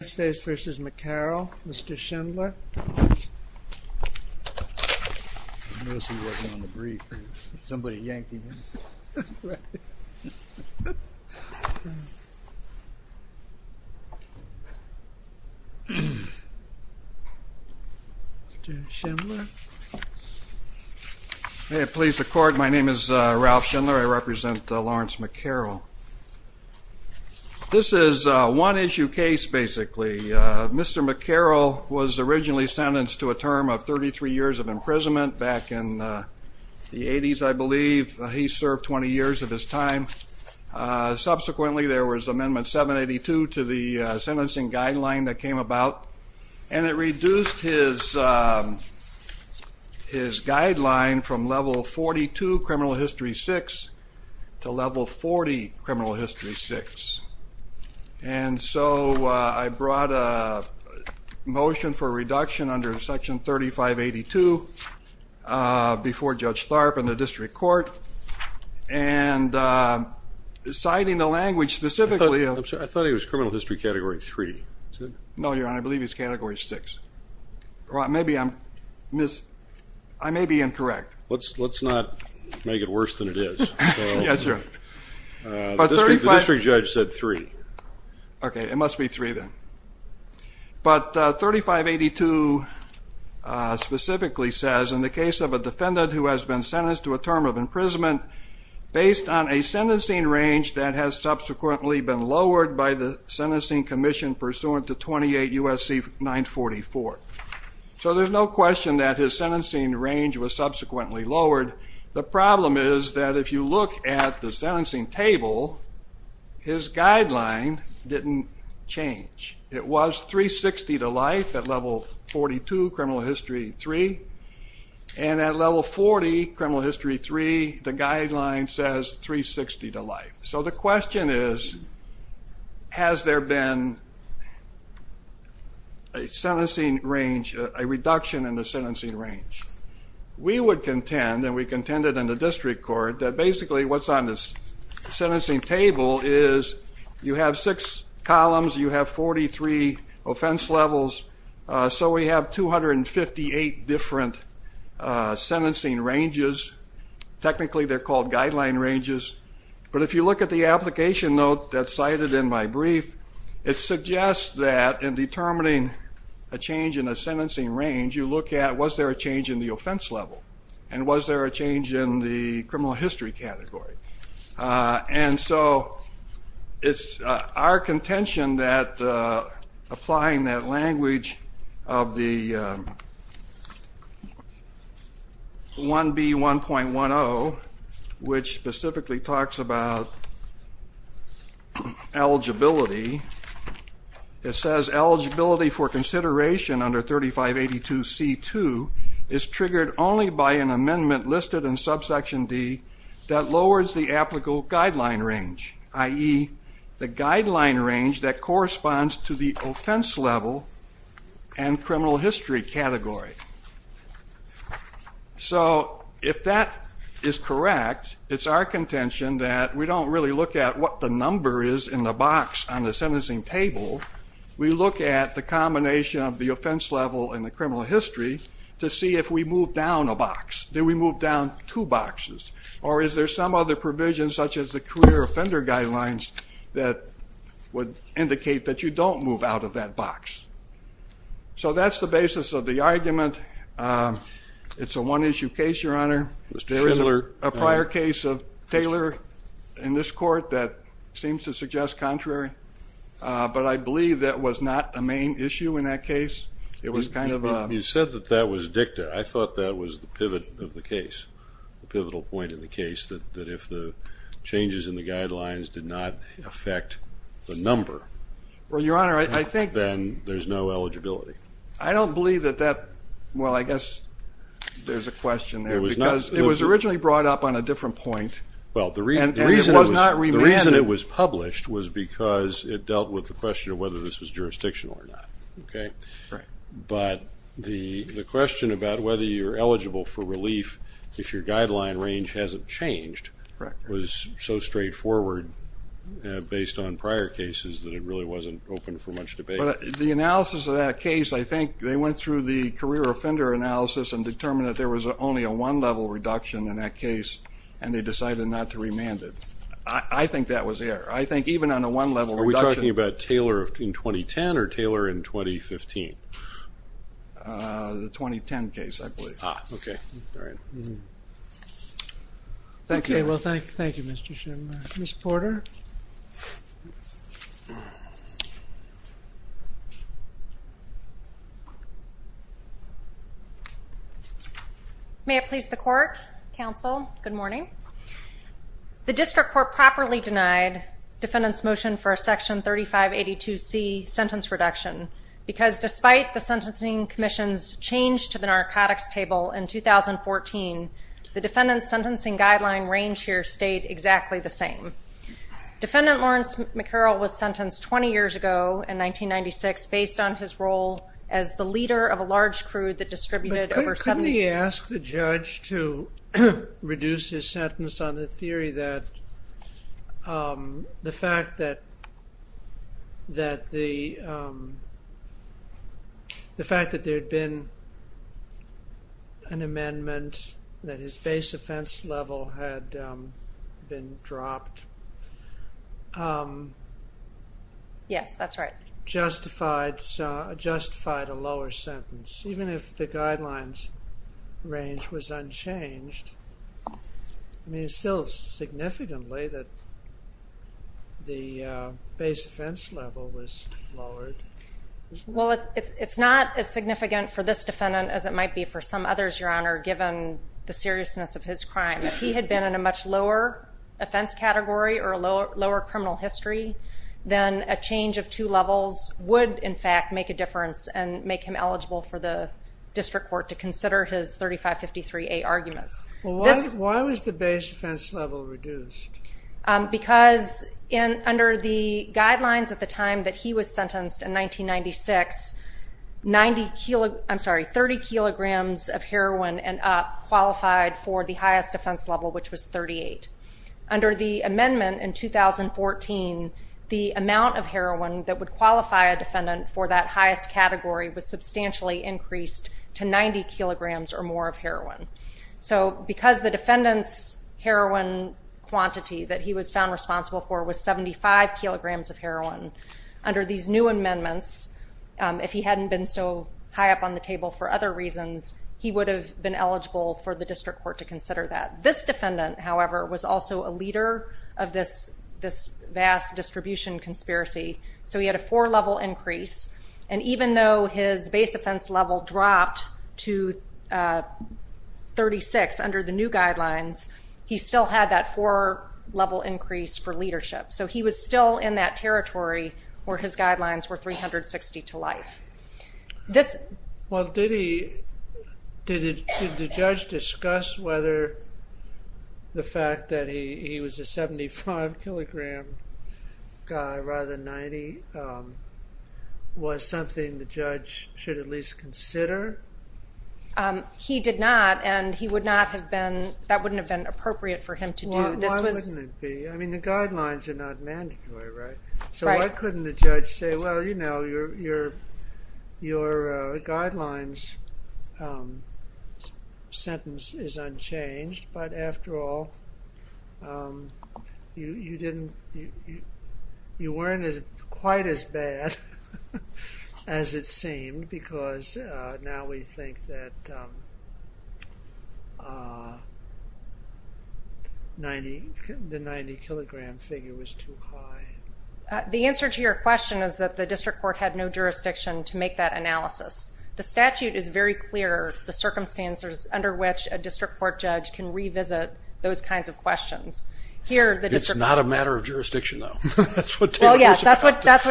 United States v. McCarroll, Mr. Schindler. May it please the court, my name is Ralph Schindler. I represent Lawrence McCarroll. This is a one-issue case basically. Mr. McCarroll was originally sentenced to a term of 33 years of imprisonment back in the 80s, I believe. He served 20 years of his time. Subsequently, there was amendment 782 to the sentencing guideline that came about. And it reduced his guideline from level 42 criminal history 6 to level 40 criminal history 6. And so I brought a motion for reduction under section 3582 before Judge Tharp and the district court. And citing the language specifically of... I thought he was criminal history category 3. No, Your Honor, I believe he's category 6. I may be incorrect. Let's not make it worse than it is. Yes, Your Honor. The district judge said 3. Okay, it must be 3 then. But 3582 specifically says in the case of a defendant who has been sentenced to a term of imprisonment based on a sentencing range that has subsequently been lowered by the sentencing commission pursuant to 28 U.S.C. 944. So there's no question that his sentencing range was subsequently lowered. The problem is that if you look at the sentencing table, his guideline didn't change. It was 360 to life at level 42 criminal history 3. And at level 40 criminal history 3, the guideline says 360 to life. So the question is, has there been a sentencing range, a reduction in the sentencing range? We would contend, and we contended in the district court, that basically what's on the sentencing table is you have six columns, you have 43 offense levels, so we have 258 different sentencing ranges. Technically they're called guideline ranges. But if you look at the application note that's cited in my brief, it suggests that in determining a change in a sentencing range, you look at was there a change in the offense level and was there a change in the criminal history category. And so it's our contention that applying that language of the 1B1.10, which specifically talks about eligibility, it says eligibility for consideration under 3582C2 is triggered only by an amendment listed in subsection D that lowers the applicable guideline range, i.e. the guideline range that corresponds to the offense level and criminal history category. So if that is correct, it's our contention that we don't really look at what the number is in the box on the sentencing table. We look at the combination of the offense level and the criminal history to see if we move down a box. Do we move down two boxes? Or is there some other provision, such as the career offender guidelines, that would indicate that you don't move out of that box? So that's the basis of the argument. It's a one-issue case, Your Honor. There is a prior case of Taylor in this court that seems to suggest contrary, but I believe that was not a main issue in that case. It was kind of a ‑‑ a pivotal point in the case that if the changes in the guidelines did not affect the number, then there's no eligibility. I don't believe that that ‑‑ well, I guess there's a question there. It was originally brought up on a different point, and it was not remanded. The reason it was published was because it dealt with the question of whether this was jurisdictional or not. But the question about whether you're eligible for relief if your guideline range hasn't changed was so straightforward based on prior cases that it really wasn't open for much debate. The analysis of that case, I think they went through the career offender analysis and determined that there was only a one-level reduction in that case, and they decided not to remand it. I think that was there. I think even on a one-level reduction ‑‑ The 2010 case, I believe. Ah, okay. All right. Thank you. Okay. Well, thank you, Mr. Shimmer. Ms. Porter? May it please the Court, Counsel, good morning. The district court properly denied defendant's motion for a section 3582C sentence reduction because despite the sentencing commission's change to the narcotics table in 2014, the defendant's sentencing guideline range here stayed exactly the same. Defendant Lawrence McCurrell was sentenced 20 years ago in 1996 based on his role as the leader of a large crew that distributed over 70 ‑‑ reduced his sentence on the theory that the fact that there had been an amendment, that his base offense level had been dropped. Yes, that's right. Justified a lower sentence. Even if the guidelines range was unchanged, I mean, it's still significantly that the base offense level was lowered. Well, it's not as significant for this defendant as it might be for some others, Your Honor, given the seriousness of his crime. If he had been in a much lower offense category or a lower criminal history, then a change of two levels would, in fact, make a difference and make him eligible for the district court to consider his 3553A arguments. Why was the base offense level reduced? Because under the guidelines at the time that he was sentenced in 1996, 30 kilograms of heroin and up qualified for the highest offense level, which was 38. Under the amendment in 2014, the amount of heroin that would qualify a defendant for that highest category was substantially increased to 90 kilograms or more of heroin. So because the defendant's heroin quantity that he was found responsible for was 75 kilograms of heroin, under these new amendments, if he hadn't been so high up on the table for other reasons, he would have been eligible for the district court to consider that. This defendant, however, was also a leader of this vast distribution conspiracy, so he had a four-level increase, and even though his base offense level dropped to 36 under the new guidelines, he still had that four-level increase for leadership. So he was still in that territory where his guidelines were 360 to life. Well, did the judge discuss whether the fact that he was a 75-kilogram guy rather than 90 was something the judge should at least consider? He did not, and that wouldn't have been appropriate for him to do. Why wouldn't it be? I mean, the guidelines are not mandatory, right? So why couldn't the judge say, well, you know, your guidelines sentence is unchanged, but after all, you weren't quite as bad as it seemed because now we think that the 90-kilogram figure was too high. The answer to your question is that the district court had no jurisdiction to make that analysis. The statute is very clear the circumstances under which a district court judge can revisit those kinds of questions. It's not a matter of jurisdiction, though. That's what Taylor said.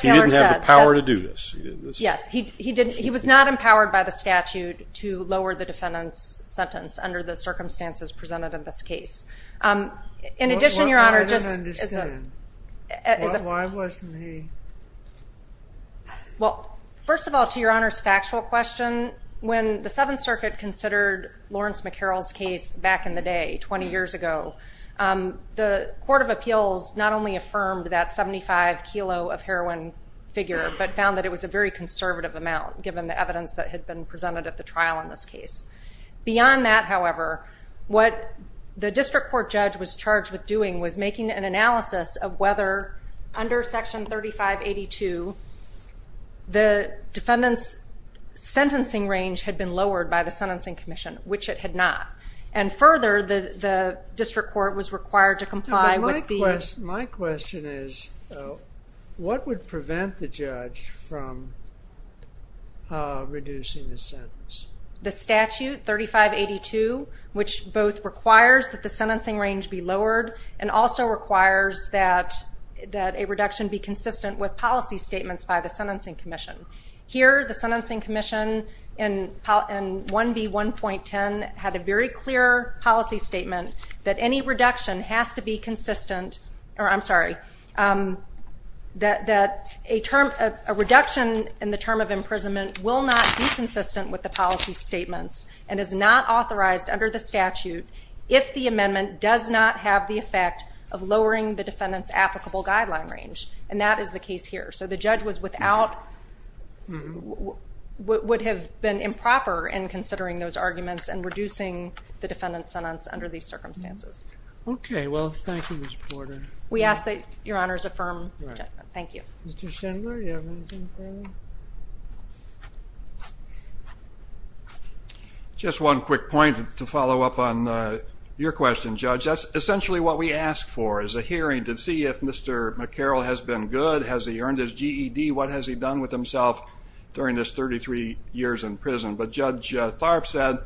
He didn't have the power to do this. Yes, he was not empowered by the statute to lower the defendant's sentence under the circumstances presented in this case. I don't understand. Why wasn't he? Well, first of all, to your Honor's factual question, when the Seventh Circuit considered Lawrence McCarroll's case back in the day 20 years ago, the Court of Appeals not only affirmed that 75-kilo of heroin figure but found that it was a very conservative amount given the evidence that had been presented at the trial in this case. Beyond that, however, what the district court judge was charged with doing was making an analysis of whether under Section 3582 the defendant's sentencing range had been lowered by the Sentencing Commission, which it had not, and further, the district court was required to comply with the My question is, what would prevent the judge from reducing the sentence? The statute, 3582, which both requires that the sentencing range be lowered and also requires that a reduction be consistent with policy statements by the Sentencing Commission. Here, the Sentencing Commission in 1B1.10 had a very clear policy statement that any reduction has to be consistent, or I'm sorry, that a reduction in the term of imprisonment will not be consistent with the policy statements and is not authorized under the statute if the amendment does not have the effect of lowering the defendant's applicable guideline range, and that is the case here. So the judge would have been improper in considering those arguments and reducing the defendant's sentence under these circumstances. Okay. Well, thank you, Ms. Porter. We ask that Your Honors affirm the judgment. Thank you. Mr. Schindler, do you have anything further? Just one quick point to follow up on your question, Judge. That's essentially what we ask for is a hearing to see if Mr. McCarroll has been good, has he earned his GED, what has he done with himself during his 33 years in prison. But Judge Tharp said,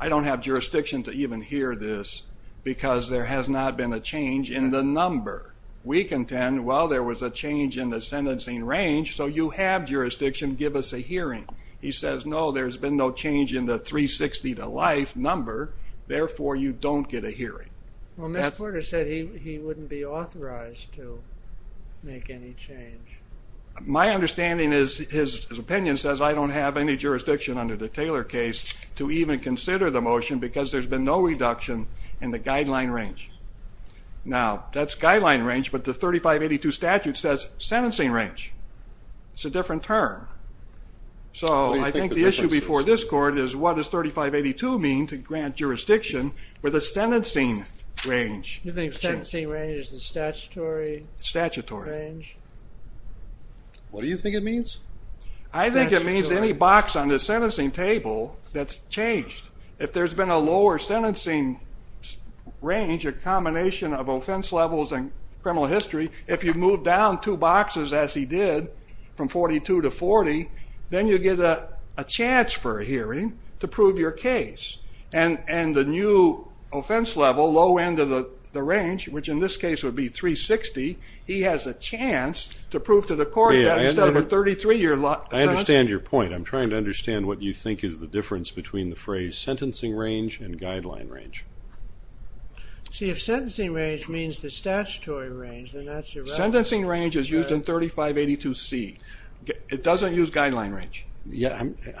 I don't have jurisdiction to even hear this because there has not been a change in the number. We contend, well, there was a change in the sentencing range, so you have jurisdiction to give us a hearing. He says, no, there's been no change in the 360 to life number, therefore you don't get a hearing. Well, Ms. Porter said he wouldn't be authorized to make any change. My understanding is his opinion says I don't have any jurisdiction under the Taylor case to even consider the motion because there's been no reduction in the guideline range. Now, that's guideline range, but the 3582 statute says sentencing range. It's a different term. So I think the issue before this court is what does 3582 mean to grant jurisdiction for the sentencing range? You think sentencing range is the statutory range? Statutory. What do you think it means? I think it means any box on the sentencing table that's changed. If there's been a lower sentencing range, a combination of offense levels and criminal history, if you move down two boxes as he did from 42 to 40, then you get a chance for a hearing to prove your case. And the new offense level, low end of the range, which in this case would be 360, he has a chance to prove to the court that instead of a 33-year sentence. I understand your point. I'm trying to understand what you think is the difference between the phrase sentencing range and guideline range. See, if sentencing range means the statutory range, then that's irrelevant. Sentencing range is used in 3582C. It doesn't use guideline range.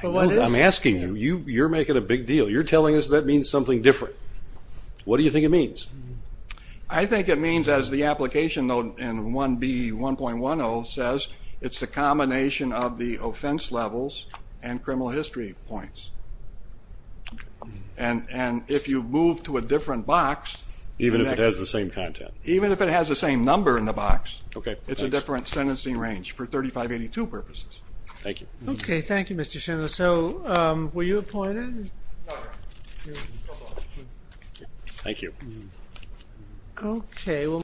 I'm asking you. You're making a big deal. You're telling us that means something different. What do you think it means? I think it means, as the application in 1B1.10 says, it's a combination of the offense levels and criminal history points. And if you move to a different box. Even if it has the same content. Even if it has the same number in the box. Okay. It's a different sentencing range for 3582 purposes. Thank you. Okay, thank you, Mr. Schindler. So, were you appointed? Thank you. Okay.